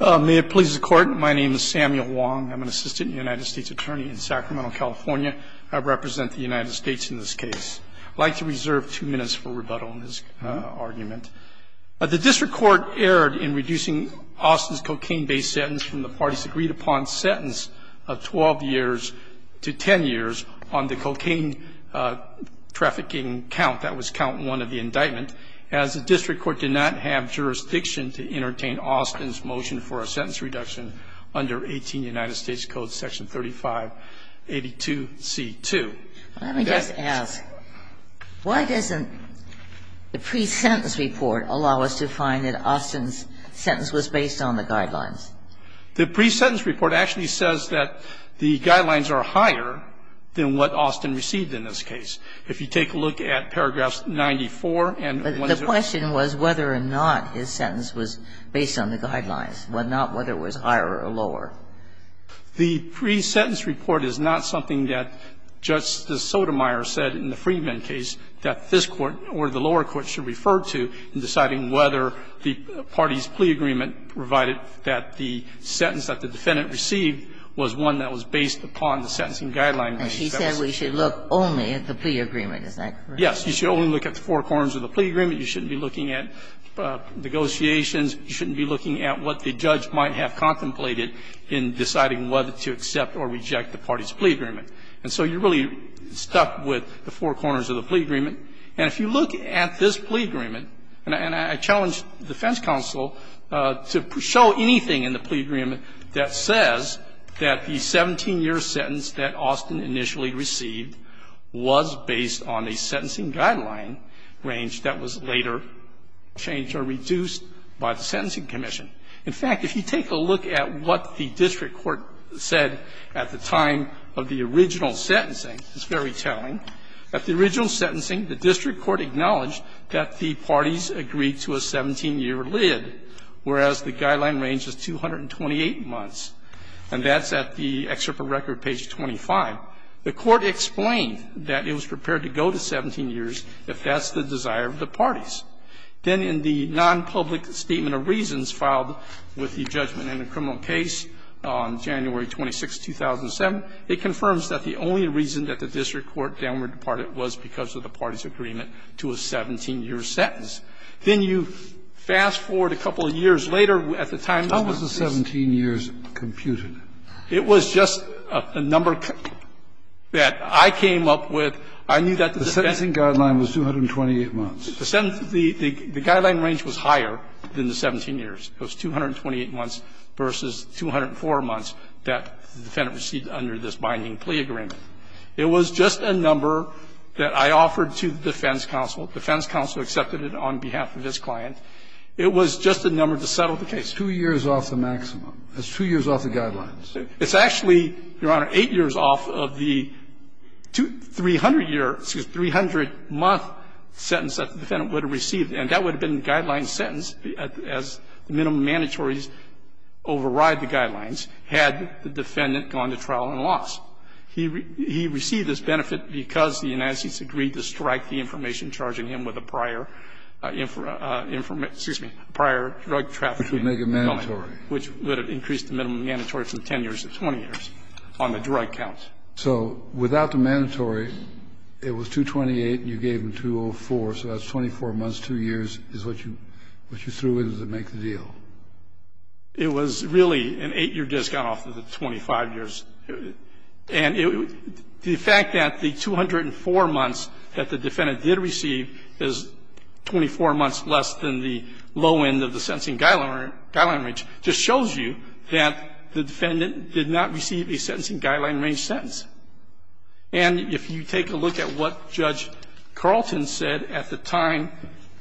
May it please the Court, my name is Samuel Wong. I'm an assistant United States attorney in Sacramento, California. I represent the United States in this case. I'd like to reserve two minutes for rebuttal in this argument. The district court erred in reducing Austin's cocaine-based sentence from the party's agreed-upon sentence of 12 years to 10 years on the cocaine trafficking count, that was count one of the indictment, as the district court did not have jurisdiction to entertain Austin's motion for a sentence reduction under 18 United States Code section 3582C2. Let me just ask, why doesn't the pre-sentence report allow us to find that Austin's sentence was based on the guidelines? The pre-sentence report actually says that the guidelines are higher than what Austin received in this case. If you take a look at paragraphs 94 and 1-0- But the question was whether or not his sentence was based on the guidelines, not whether it was higher or lower. The pre-sentence report is not something that Justice Sotomayor said in the Freeman case that this Court or the lower court should refer to in deciding whether the party's plea agreement, provided that the sentence that the defendant received was one that was based upon the sentencing guideline in this case. And she said we should look only at the plea agreement. Is that correct? Yes. You should only look at the four corners of the plea agreement. You shouldn't be looking at negotiations. You shouldn't be looking at what the judge might have contemplated in deciding whether to accept or reject the party's plea agreement. And so you're really stuck with the four corners of the plea agreement. And if you look at this plea agreement, and I challenge defense counsel to show anything in the plea agreement that says that the 17-year sentence that Austin initially received was based on a sentencing guideline range that was later changed or reduced by the Sentencing Commission. In fact, if you take a look at what the district court said at the time of the original sentencing, it's very telling. At the original sentencing, the district court acknowledged that the parties agreed to a 17-year LID, whereas the guideline range is 228 months, and that's at the excerpt of record page 25. The Court explained that it was prepared to go to 17 years if that's the desire of the parties. Then in the nonpublic statement of reasons filed with the judgment in the criminal case on January 26, 2007, it confirms that the only reason that the district court downward departed was because of the parties' agreement to a 17-year sentence. Then you fast-forward a couple of years later at the time of the case. Kennedy, how was the 17 years computed? It was just a number that I came up with. I knew that the defense was 228 months. The guideline range was higher than the 17 years. It was 228 months versus 204 months that the defendant received under this binding plea agreement. It was just a number that I offered to the defense counsel. The defense counsel accepted it on behalf of his client. It was just a number to settle the case. Two years off the maximum. That's two years off the guidelines. It's actually, Your Honor, eight years off of the 300-year or 300-month sentence that the defendant would have received, and that would have been the guideline sentence as the minimum mandatories override the guidelines had the defendant gone to trial and lost. He received this benefit because the United States agreed to strike the information charging him with a prior information --- excuse me, prior drug trafficking element. Which would make it mandatory. Which would have increased the minimum mandatory from 10 years to 20 years on the drug count. So without the mandatory, it was 228 and you gave him 204, so that's 24 months, 2 years is what you threw in to make the deal. It was really an 8-year discount off of the 25 years. And the fact that the 204 months that the defendant did receive is 24 months less than the low end of the sentencing guideline range just shows you that the defendant did not receive a sentencing guideline range sentence. And if you take a look at what Judge Carlton said at the time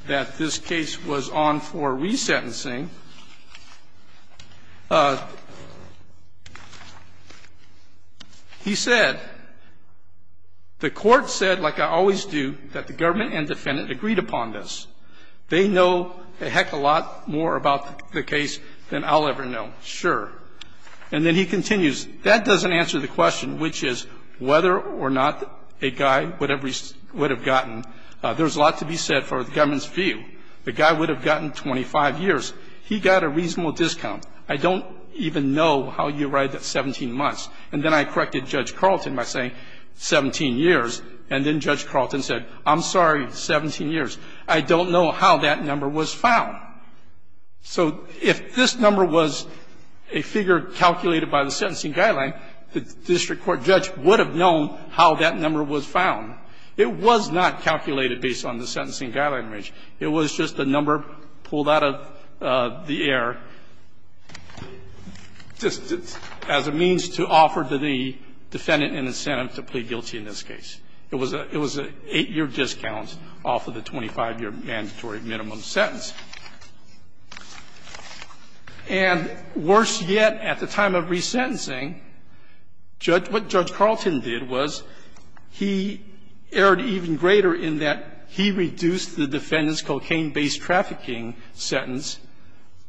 that this case was on for re-sentencing, he said, the court said, like I always do, that the government and defendant agreed upon this. They know a heck of a lot more about the case than I'll ever know, sure. And then he continues, that doesn't answer the question, which is whether or not a guy would have gotten, there's a lot to be said for the government's view, the guy would have gotten 25 years. He got a reasonable discount. I don't even know how you arrived at 17 months. And then I corrected Judge Carlton by saying 17 years, and then Judge Carlton said, I'm sorry, 17 years. I don't know how that number was found. So if this number was a figure calculated by the sentencing guideline, the district court judge would have known how that number was found. It was not calculated based on the sentencing guideline range. It was just a number pulled out of the air, just as a means to offer to the defendant an incentive to plead guilty in this case. It was an 8-year discount off of the 25-year mandatory minimum sentence. And worse yet, at the time of re-sentencing, Judge – what Judge Carlton did was he erred even greater in that he reduced the defendant's cocaine-based trafficking sentence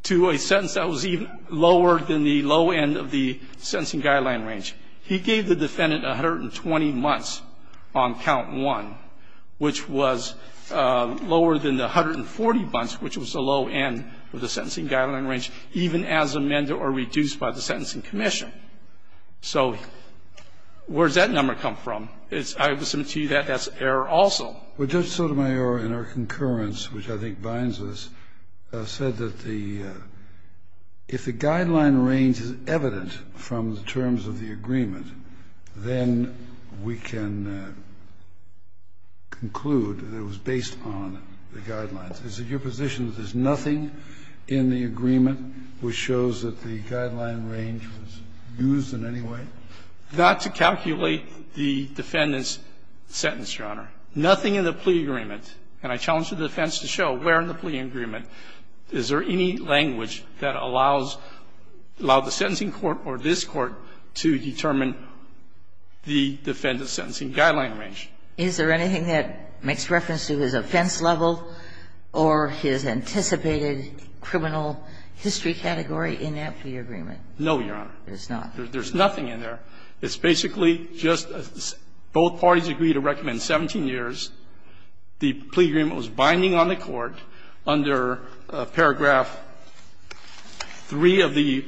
to a sentence that was even lower than the low end of the sentencing guideline range. He gave the defendant 120 months on count one, which was lower than the 140 months, which was the low end of the sentencing guideline range, even as amended or reduced by the Sentencing Commission. So where does that number come from? I would submit to you that that's an error also. Kennedy. Well, Judge Sotomayor, in our concurrence, which I think binds us, said that the – if the guideline range is evident from the terms of the agreement, then we can conclude that it was based on the guidelines. Is it your position that there's nothing in the agreement which shows that the guideline range was used in any way? Not to calculate the defendant's sentence, Your Honor. Nothing in the plea agreement. And I challenge the defense to show where in the plea agreement is there any language that allows – allowed the sentencing court or this Court to determine the defendant's sentencing guideline range. Is there anything that makes reference to his offense level or his anticipated criminal history category in that plea agreement? No, Your Honor. There's not? There's nothing in there. It's basically just both parties agree to recommend 17 years. The plea agreement was binding on the Court under paragraph 3 of the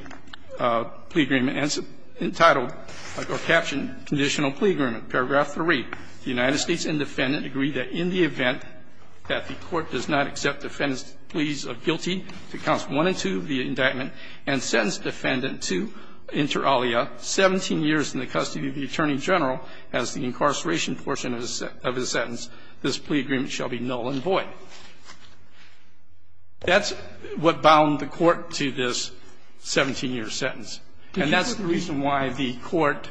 plea agreement entitled, or captioned, Conditional Plea Agreement, paragraph 3. The United States and defendant agree that in the event that the Court does not accept defendant's pleas of guilty to counts 1 and 2 of the indictment and sentence defendant to inter alia 17 years in the custody of the Attorney General as the incarceration portion of his sentence, this plea agreement shall be null and void. That's what bound the Court to this 17-year sentence. And that's the reason why the Court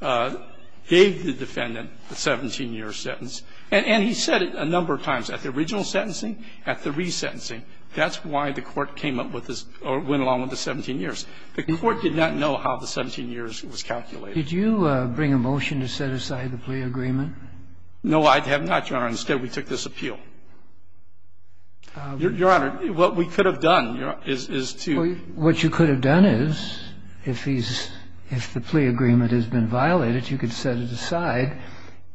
gave the defendant a 17-year sentence. And he said it a number of times. At the original sentencing, at the resentencing. That's why the Court came up with this – or went along with the 17 years. The Court did not know how the 17 years was calculated. Did you bring a motion to set aside the plea agreement? No, I have not, Your Honor. Instead, we took this appeal. Your Honor, what we could have done is to – What you could have done is, if he's – if the plea agreement has been violated, you could set it aside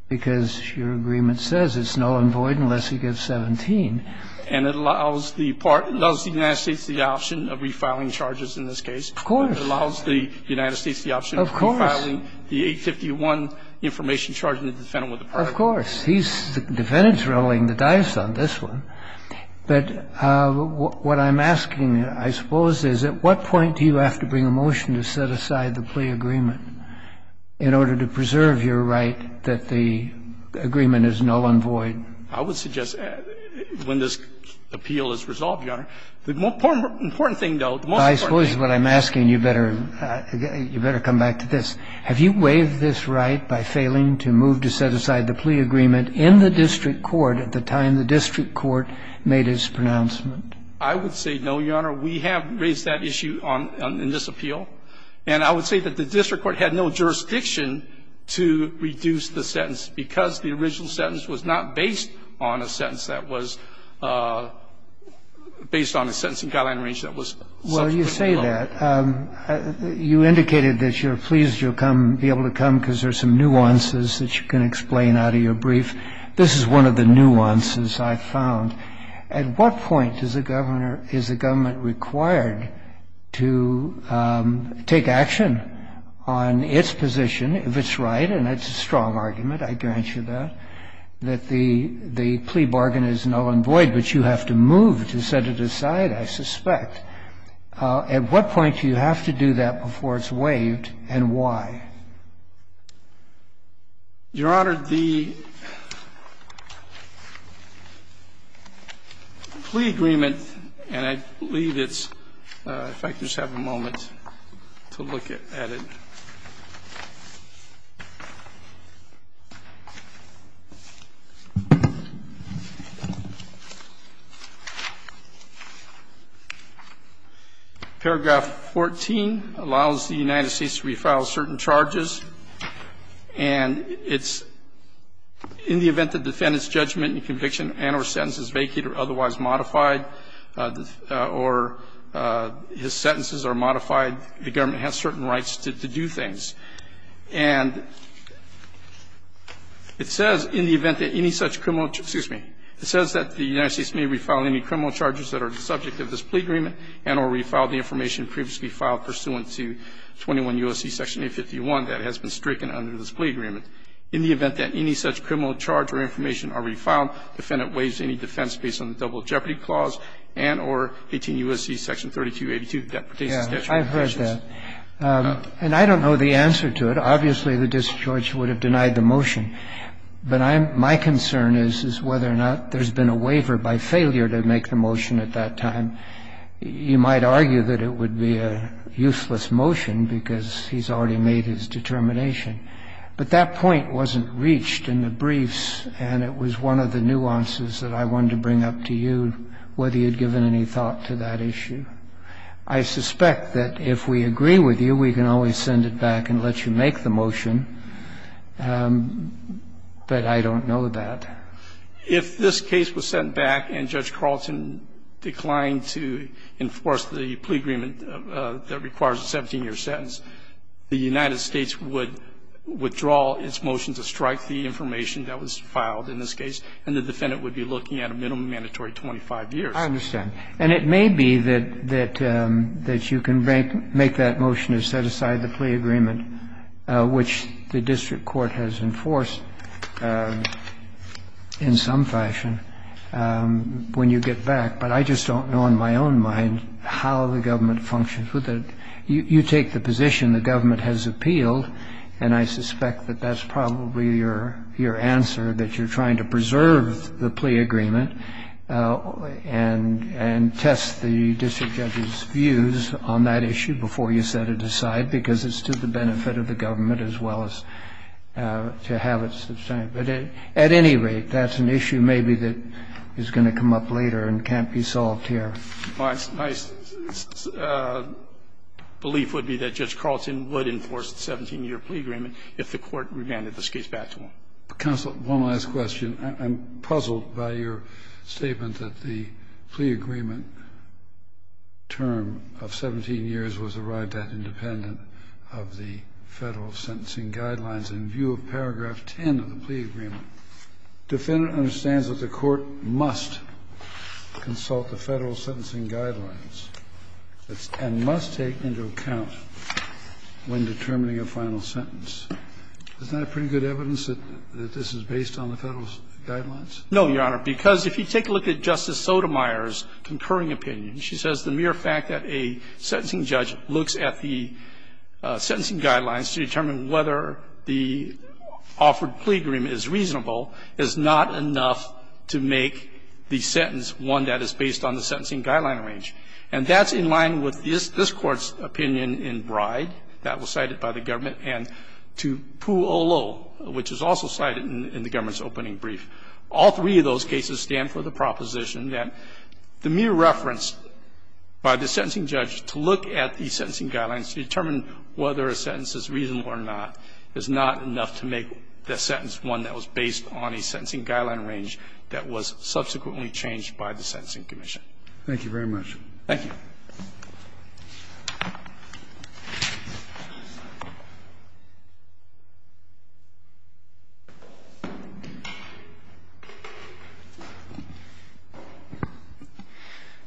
because your agreement says it's null and void unless he gets 17. And it allows the United States the option of refiling charges in this case. Of course. It allows the United States the option of refiling the 851 information charge in the defendant with a pardon. Of course. He's the defendant's reveling the dice on this one. But what I'm asking, I suppose, is at what point do you have to bring a motion to set aside the plea agreement in order to preserve your right that the agreement is null and void? I would suggest when this appeal is resolved, Your Honor. The important thing, though, the most important thing – I suppose what I'm asking, you better – you better come back to this. Have you waived this right by failing to move to set aside the plea agreement in the district court at the time the district court made its pronouncement? I would say no, Your Honor. We have raised that issue on – in this appeal. And I would say that the district court had no jurisdiction to reduce the sentence because the original sentence was not based on a sentence that was – based on a sentence in guideline range that was – Well, you say that. You indicated that you're pleased you'll come – be able to come because there's some nuances that you can explain out of your brief. This is one of the nuances I found. At what point is the governor – is the government required to take action on its position, if it's right – and that's a strong argument. I guarantee you that – that the plea bargain is null and void, but you have to move to set it aside, I suspect. At what point do you have to do that before it's waived, and why? Your Honor, the plea agreement – and I believe it's – if I could just have a moment to look at it. Paragraph 14 allows the United States to re-file certain charges. And it's – in the event the defendant's judgment and conviction and or sentence is vacated or otherwise modified, or his sentences are modified, the government has certain rights to do things. And it says, in the event that any such criminal – excuse me. It says that the United States may re-file any criminal charges that are the subject of this plea agreement and or re-file the information previously filed pursuant to 21 U.S.C. Section 851 that has been stricken under this plea agreement. In the event that any such criminal charge or information are re-filed, the defendant waives any defense based on the double jeopardy clause and or 18 U.S.C. Section 3282 that pertains to statute. I've heard that. And I don't know the answer to it. Obviously, the district judge would have denied the motion. But I'm – my concern is, is whether or not there's been a waiver by failure to make the motion at that time. You might argue that it would be a useless motion, because he's already made his determination. But that point wasn't reached in the briefs, and it was one of the nuances that I wanted to bring up to you, whether you'd given any thought to that issue. I suspect that if we agree with you, we can always send it back and let you make the motion. But I don't know that. If this case was sent back and Judge Carlton declined to enforce the plea agreement that requires a 17-year sentence, the United States would withdraw its motion to strike the information that was filed in this case, and the defendant would be looking at a minimum mandatory 25 years. I understand. And it may be that you can make that motion to set aside the plea agreement, which the district court has enforced in some fashion, when you get back. But I just don't know in my own mind how the government functions with it. You take the position the government has appealed, and I suspect that that's probably your answer, that you're going to go back and test the district judge's views on that issue before you set it aside, because it's to the benefit of the government as well as to have it sustained. But at any rate, that's an issue maybe that is going to come up later and can't be solved here. My belief would be that Judge Carlton would enforce the 17-year plea agreement if the court remanded this case back to him. Counsel, one last question. I'm puzzled by your statement that the plea agreement term of 17 years was arrived at independent of the Federal sentencing guidelines. In view of paragraph 10 of the plea agreement, defendant understands that the court must consult the Federal sentencing guidelines and must take into account when determining a final sentence. Isn't that pretty good evidence that this is based on the Federal guidelines? No, Your Honor, because if you take a look at Justice Sotomayor's concurring opinion, she says the mere fact that a sentencing judge looks at the sentencing guidelines to determine whether the offered plea agreement is reasonable is not enough to make the sentence one that is based on the sentencing guideline range. And that's in line with this Court's opinion in Bride that was cited by the government and to Poole O'Lough, which was also cited in the government's opening brief. All three of those cases stand for the proposition that the mere reference by the sentencing judge to look at the sentencing guidelines to determine whether a sentence is reasonable or not is not enough to make the sentence one that was based on a sentencing guideline range that was subsequently changed by the Sentencing Commission. Thank you very much. Thank you.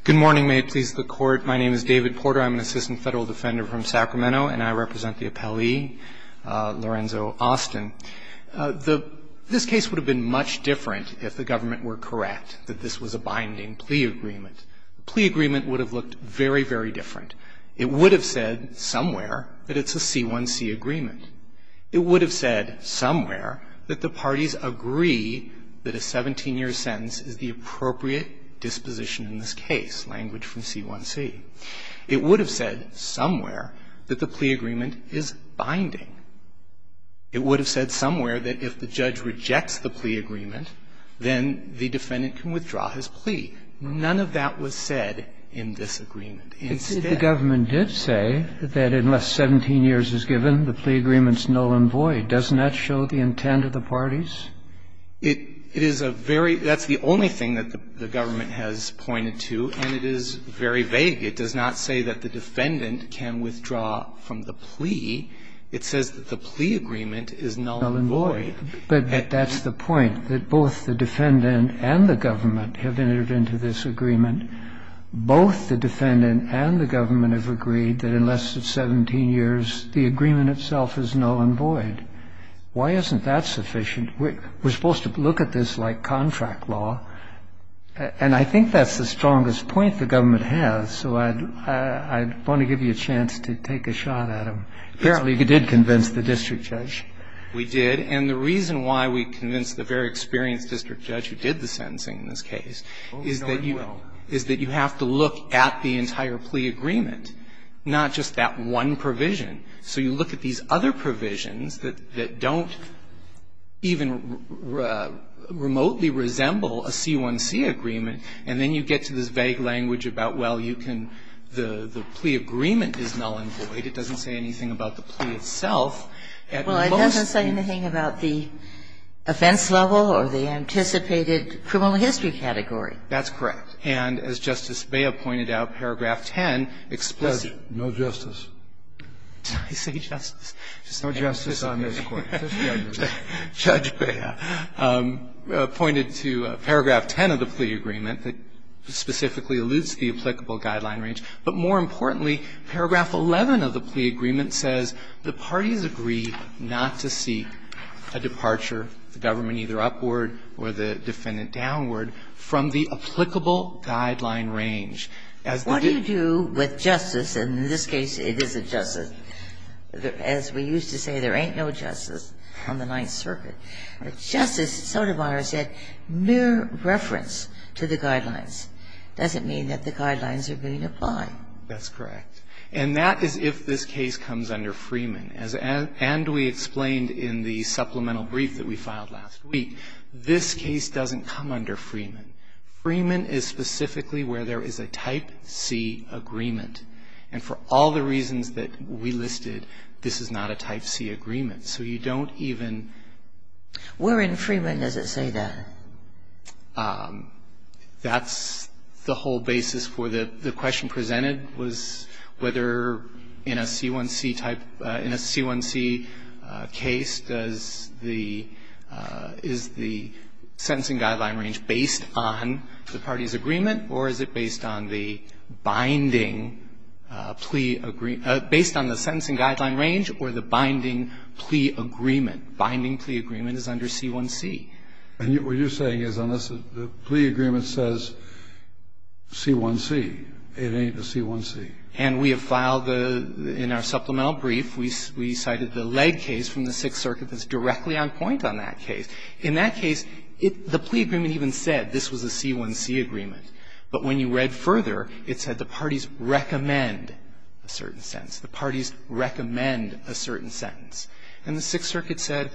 Good morning. May it please the Court. My name is David Porter. I'm an assistant Federal defender from Sacramento, and I represent the appellee, Lorenzo Austin. The – this case would have been much different if the government were correct that this was a binding plea agreement. The plea agreement would have looked very, very different. It would have said somewhere that it's a C1C agreement. It would have said somewhere that the parties agree that a 17-year sentence is the appropriate disposition in this case, language from C1C. It would have said somewhere that the plea agreement is binding. It would have said somewhere that if the judge rejects the plea agreement, then the defendant can withdraw his plea. None of that was said in this agreement. Instead the government did say that unless 17 years is given, the plea agreement is null and void. Doesn't that show the intent of the parties? It is a very – that's the only thing that the government has pointed to, and it is very vague. It does not say that the defendant can withdraw from the plea. It says that the plea agreement is null and void. But that's the point, that both the defendant and the government have intervened to this agreement. Both the defendant and the government have agreed that unless it's 17 years, the agreement itself is null and void. Why isn't that sufficient? We're supposed to look at this like contract law. And I think that's the strongest point the government has. So I'd want to give you a chance to take a shot at them. Apparently you did convince the district judge. We did. And the reason why we convinced the very experienced district judge who did the sentencing in this case is that you have to look at the entire plea agreement, not just that one provision. So you look at these other provisions that don't even remotely resemble a C1C agreement, and then you get to this vague language about, well, you can – the plea agreement is null and void. It doesn't say anything about the plea itself. Well, it doesn't say anything about the offense level or the anticipated criminal history category. That's correct. And as Justice Bea pointed out, paragraph 10 explicitly – Judge, no justice. Did I say justice? No justice on this Court. Judge Bea pointed to paragraph 10 of the plea agreement that specifically alludes to the applicable guideline range. But more importantly, paragraph 11 of the plea agreement says the parties agree not to seek a departure, the government either upward or the defendant downward, from the applicable guideline range. What do you do with justice? And in this case, it isn't justice. As we used to say, there ain't no justice on the Ninth Circuit. Justice Sotomayor said mere reference to the guidelines doesn't mean that the guidelines are being applied. That's correct. And that is if this case comes under Freeman. And we explained in the supplemental brief that we filed last week, this case doesn't come under Freeman. Freeman is specifically where there is a Type C agreement. And for all the reasons that we listed, this is not a Type C agreement. So you don't even – Where in Freeman does it say that? That's the whole basis for the question presented, was whether in a C1C type – in a C1C case, does the – is the sentencing guideline range based on the parties' agreement, or is it based on the binding plea – based on the sentencing guideline range or the binding plea agreement? Binding plea agreement is under C1C. And what you're saying is unless the plea agreement says C1C, it ain't a C1C. And we have filed the – in our supplemental brief, we cited the leg case from the Sixth Circuit that's directly on point on that case. In that case, the plea agreement even said this was a C1C agreement. But when you read further, it said the parties recommend a certain sentence. The parties recommend a certain sentence. And the Sixth Circuit said,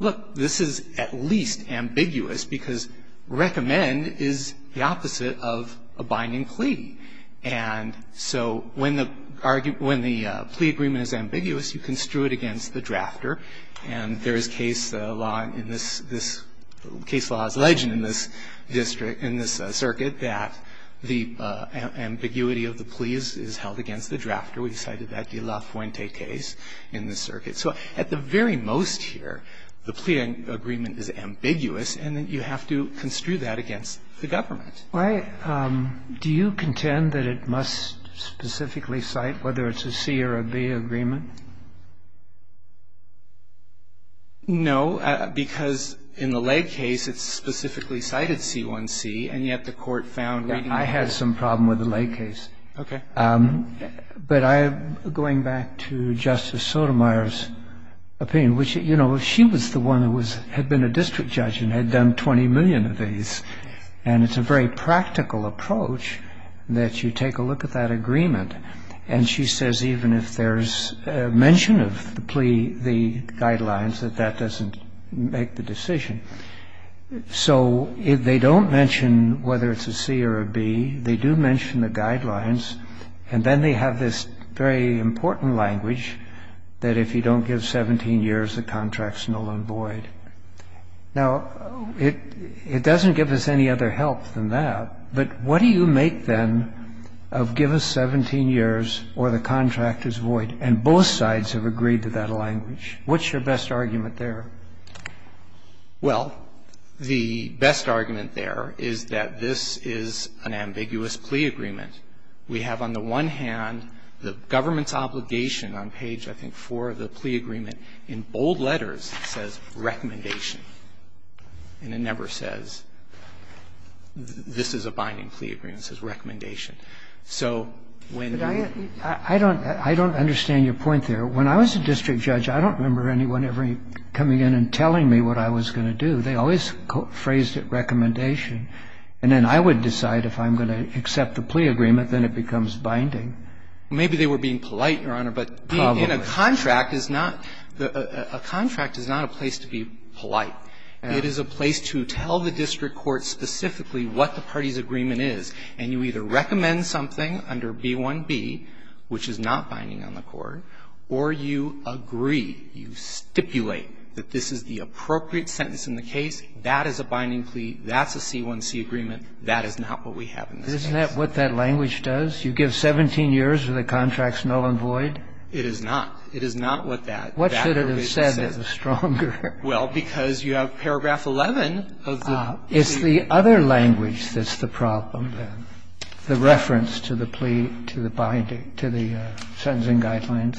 look, this is at least ambiguous because recommend is the opposite of a binding plea. And so when the plea agreement is ambiguous, you construe it against the drafter. And there is case law in this – case law is legend in this district – in this circuit that the ambiguity of the plea is held against the drafter. So at the very most here, the plea agreement is ambiguous, and you have to construe that against the government. Do you contend that it must specifically cite whether it's a C or a B agreement? No, because in the leg case, it specifically cited C1C, and yet the court found reading the case. I had some problem with the leg case. Okay. But I'm going back to Justice Sotomayor's opinion, which, you know, she was the one who had been a district judge and had done 20 million of these. And it's a very practical approach that you take a look at that agreement, and she says even if there's mention of the plea, the guidelines, that that doesn't make the decision. So they don't mention whether it's a C or a B. They do mention the guidelines, and then they have this very important language that if you don't give 17 years, the contract's null and void. Now, it doesn't give us any other help than that, but what do you make, then, of give us 17 years or the contract is void, and both sides have agreed to that language? What's your best argument there? Well, the best argument there is that this is an ambiguous plea agreement. We have on the one hand the government's obligation on page, I think, 4 of the plea agreement. In bold letters, it says recommendation, and it never says this is a binding plea agreement. It says recommendation. And the government is not coming in and telling me what I was going to do. They always phrased it recommendation. And then I would decide if I'm going to accept the plea agreement, then it becomes binding. Maybe they were being polite, Your Honor, but being in a contract is not the – a contract is not a place to be polite. It is a place to tell the district court specifically what the party's agreement is, and you either recommend something under B1B, which is not binding on the court, or you agree, you stipulate that this is the appropriate sentence in the case, that is a binding plea, that's a C1C agreement, that is not what we have in this case. Isn't that what that language does? You give 17 years or the contract's null and void? It is not. It is not what that – that provision says. What should it have said that was stronger? Well, because you have paragraph 11 of the – It's the other language that's the problem, then, the reference to the plea, to the sentencing guidelines.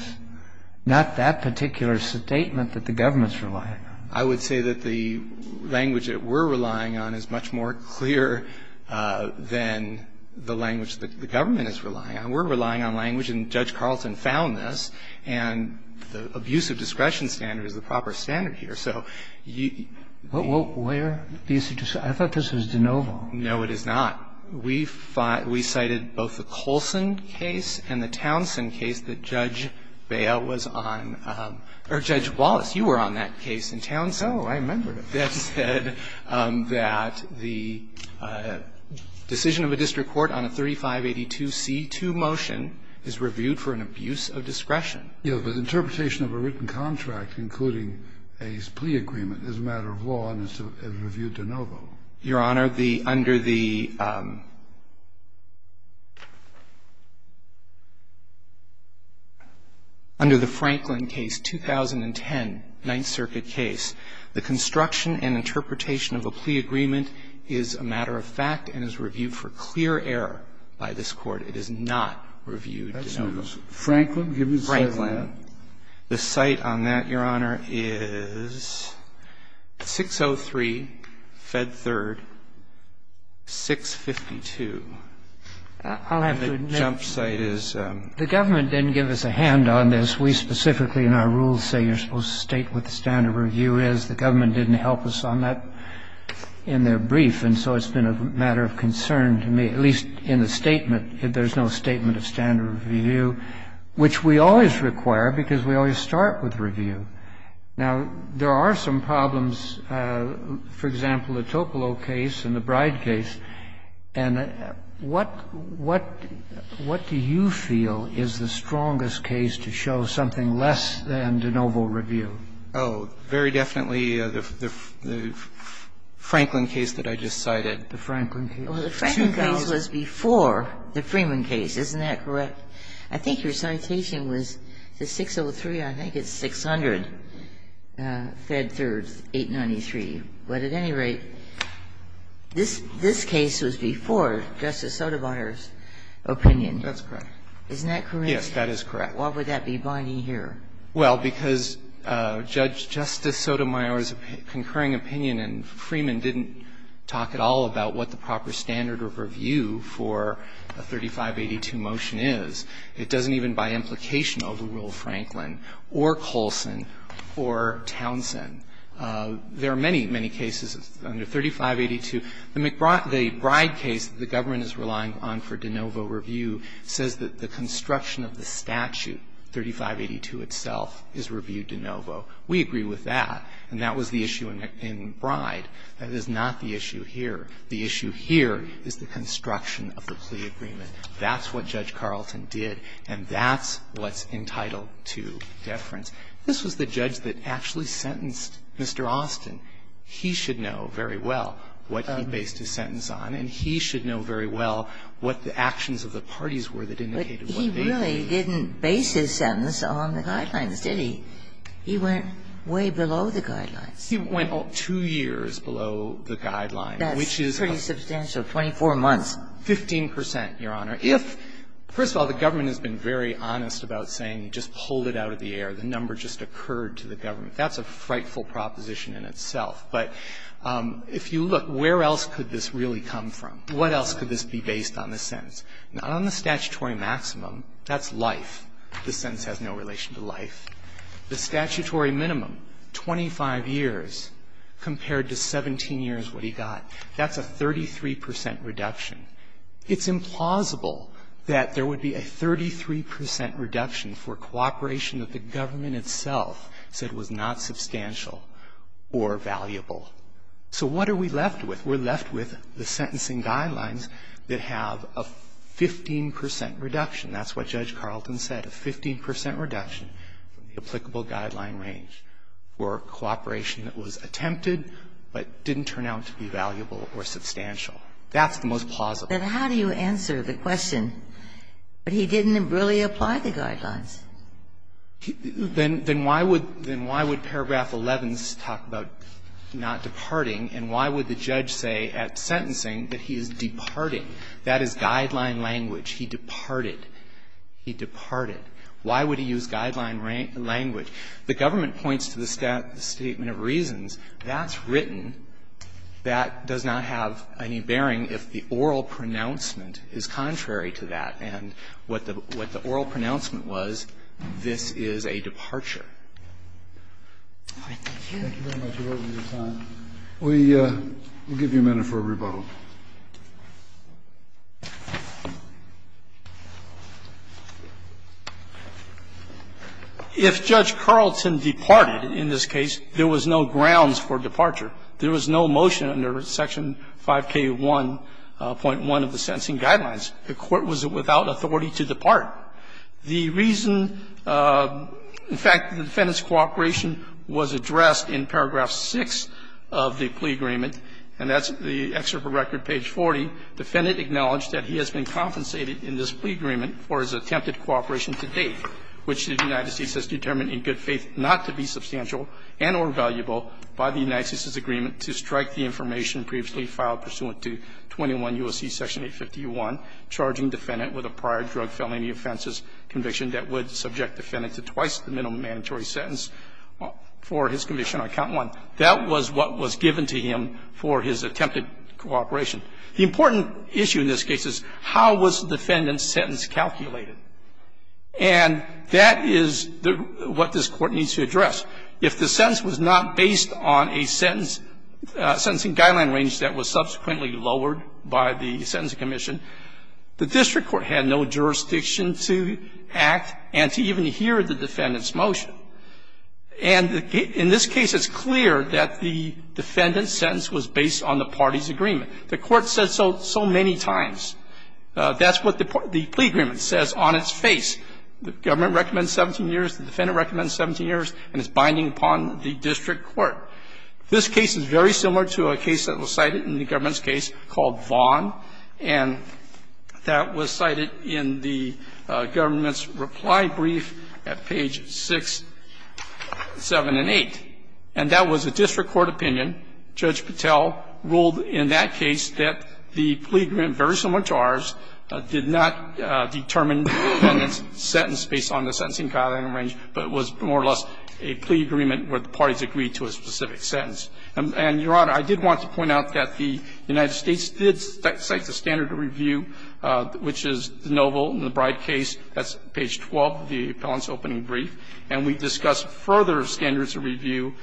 Not that particular statement that the government's relying on. I would say that the language that we're relying on is much more clear than the language that the government is relying on. We're relying on language, and Judge Carlson found this, and the abuse of discretion standard is the proper standard here. So you – Well, where do you suggest – I thought this was de novo. No, it is not. We cited both the Colson case and the Townsend case that Judge Bail was on – or Judge Wallace, you were on that case in Townsend. Oh, I remember. That said that the decision of a district court on a 3582C2 motion is reviewed for an abuse of discretion. Yes, but interpretation of a written contract, including a plea agreement, is a matter of law and is reviewed de novo. Your Honor, the – under the – under the Franklin case, 2010, Ninth Circuit case, the construction and interpretation of a plea agreement is a matter of fact and is reviewed for clear error by this Court. It is not reviewed de novo. Franklin? Franklin. The site on that, Your Honor, is 603, Fed 3rd, 652. I'll have to admit – And the jump site is – The government didn't give us a hand on this. We specifically in our rules say you're supposed to state what the standard review is. The government didn't help us on that in their brief, and so it's been a matter of concern to me, at least in the statement. There's no statement of standard review, which we always require because we always start with review. Now, there are some problems, for example, the Topolo case and the Bride case. And what do you feel is the strongest case to show something less than de novo review? Oh, very definitely the Franklin case that I just cited. The Franklin case. Well, the Franklin case was before the Freeman case. Isn't that correct? I think your citation was the 603, I think it's 600, Fed 3rd, 893. But at any rate, this case was before Justice Sotomayor's opinion. That's correct. Isn't that correct? Yes, that is correct. Why would that be binding here? Well, because Justice Sotomayor's concurring opinion and Freeman didn't talk at all about what the proper standard of review for a 3582 motion is. It doesn't even buy implication over Rule Franklin or Colson or Townsend. There are many, many cases under 3582. The McBride case, the government is relying on for de novo review, says that the construction of the statute, 3582 itself, is review de novo. We agree with that. And that was the issue in Bride. That is not the issue here. The issue here is the construction of the plea agreement. That's what Judge Carlton did, and that's what's entitled to deference. This was the judge that actually sentenced Mr. Austin. He should know very well what he based his sentence on, and he should know very well what the actions of the parties were that indicated what they did. But he really didn't base his sentence on the guidelines, did he? He went way below the guidelines. He went two years below the guidelines, which is a substantial 24 months. 15 percent, Your Honor. If, first of all, the government has been very honest about saying you just pulled it out of the air, the number just occurred to the government, that's a frightful proposition in itself. But if you look, where else could this really come from? What else could this be based on the sentence? Not on the statutory maximum. That's life. The sentence has no relation to life. The statutory minimum, 25 years, compared to 17 years what he got, that's a 33 percent reduction. It's implausible that there would be a 33 percent reduction for cooperation that the government itself said was not substantial or valuable. So what are we left with? We're left with the sentencing guidelines that have a 15 percent reduction. That's what Judge Carlton said, a 15 percent reduction. The applicable guideline range for cooperation that was attempted, but didn't turn out to be valuable or substantial. That's the most plausible. But how do you answer the question, but he didn't really apply the guidelines? Then why would paragraph 11 talk about not departing? And why would the judge say at sentencing that he is departing? That is guideline language. He departed. He departed. Why would he use guideline language? The government points to the statement of reasons. That's written. That does not have any bearing if the oral pronouncement is contrary to that. And what the oral pronouncement was, this is a departure. All right. Thank you. Thank you very much. We're over your time. We'll give you a minute for a rebuttal. If Judge Carlton departed in this case, there was no grounds for departure. There was no motion under section 5K1.1 of the sentencing guidelines. The court was without authority to depart. The reason the defendant's cooperation was addressed in paragraph 6 of the plea agreement, and that's the excerpt of record page 40, defendant acknowledged that he has been compensated in this plea agreement for his attempted cooperation to date, which the United States has determined in good faith not to be substantial and or valuable by the United States' agreement to strike the information previously filed pursuant to 21 U.S.C. section 851, charging defendant with a prior drug felony offenses conviction that would subject defendant to twice the minimum mandatory sentence for his conviction on count 1. That was what was given to him for his attempted cooperation. The important issue in this case is how was the defendant's sentence calculated? And that is what this Court needs to address. If the sentence was not based on a sentence, a sentencing guideline range that was subsequently lowered by the Sentencing Commission, the district court had no jurisdiction to act and to even hear the defendant's motion. And in this case, it's clear that the defendant's sentence was based on the party's agreement. The Court said so so many times. That's what the plea agreement says on its face. The government recommends 17 years, the defendant recommends 17 years, and it's binding upon the district court. This case is very similar to a case that was cited in the government's case called Vaughn, and that was cited in the government's reply brief at page 6, 7, and 8. And that was a district court opinion. Judge Patel ruled in that case that the plea agreement, very similar to ours, did not determine the defendant's sentence based on the sentencing guideline range, but it was more or less a plea agreement where the parties agreed to a specific sentence. And, Your Honor, I did want to point out that the United States did cite the standard of review, which is de novo in the Bride case. That's page 12 of the appellant's opening brief. And we discussed further standards of review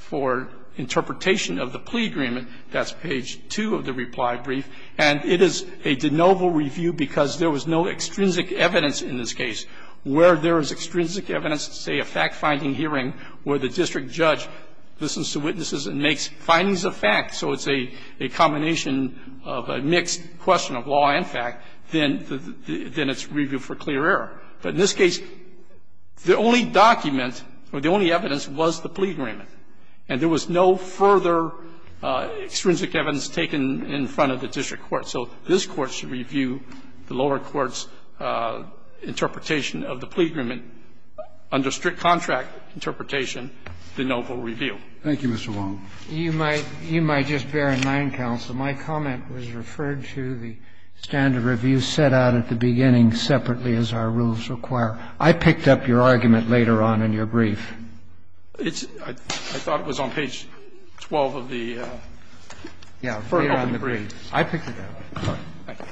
for interpretation of the plea agreement. That's page 2 of the reply brief. And it is a de novo review because there was no extrinsic evidence in this case. Where there is extrinsic evidence, say, a fact-finding hearing where the district judge listens to witnesses and makes findings of fact, so it's a combination of a mixed question of law and fact, then it's reviewed for clear error. But in this case, the only document or the only evidence was the plea agreement. And there was no further extrinsic evidence taken in front of the district court. So this Court should review the lower court's interpretation of the plea agreement under strict contract interpretation, de novo review. Thank you, Mr. Wong. You might just bear in mind, counsel, my comment was referred to the standard review set out at the beginning separately as our rules require. I picked up your argument later on in your brief. I thought it was on page 12 of the first opening brief. I picked it up. Thank you.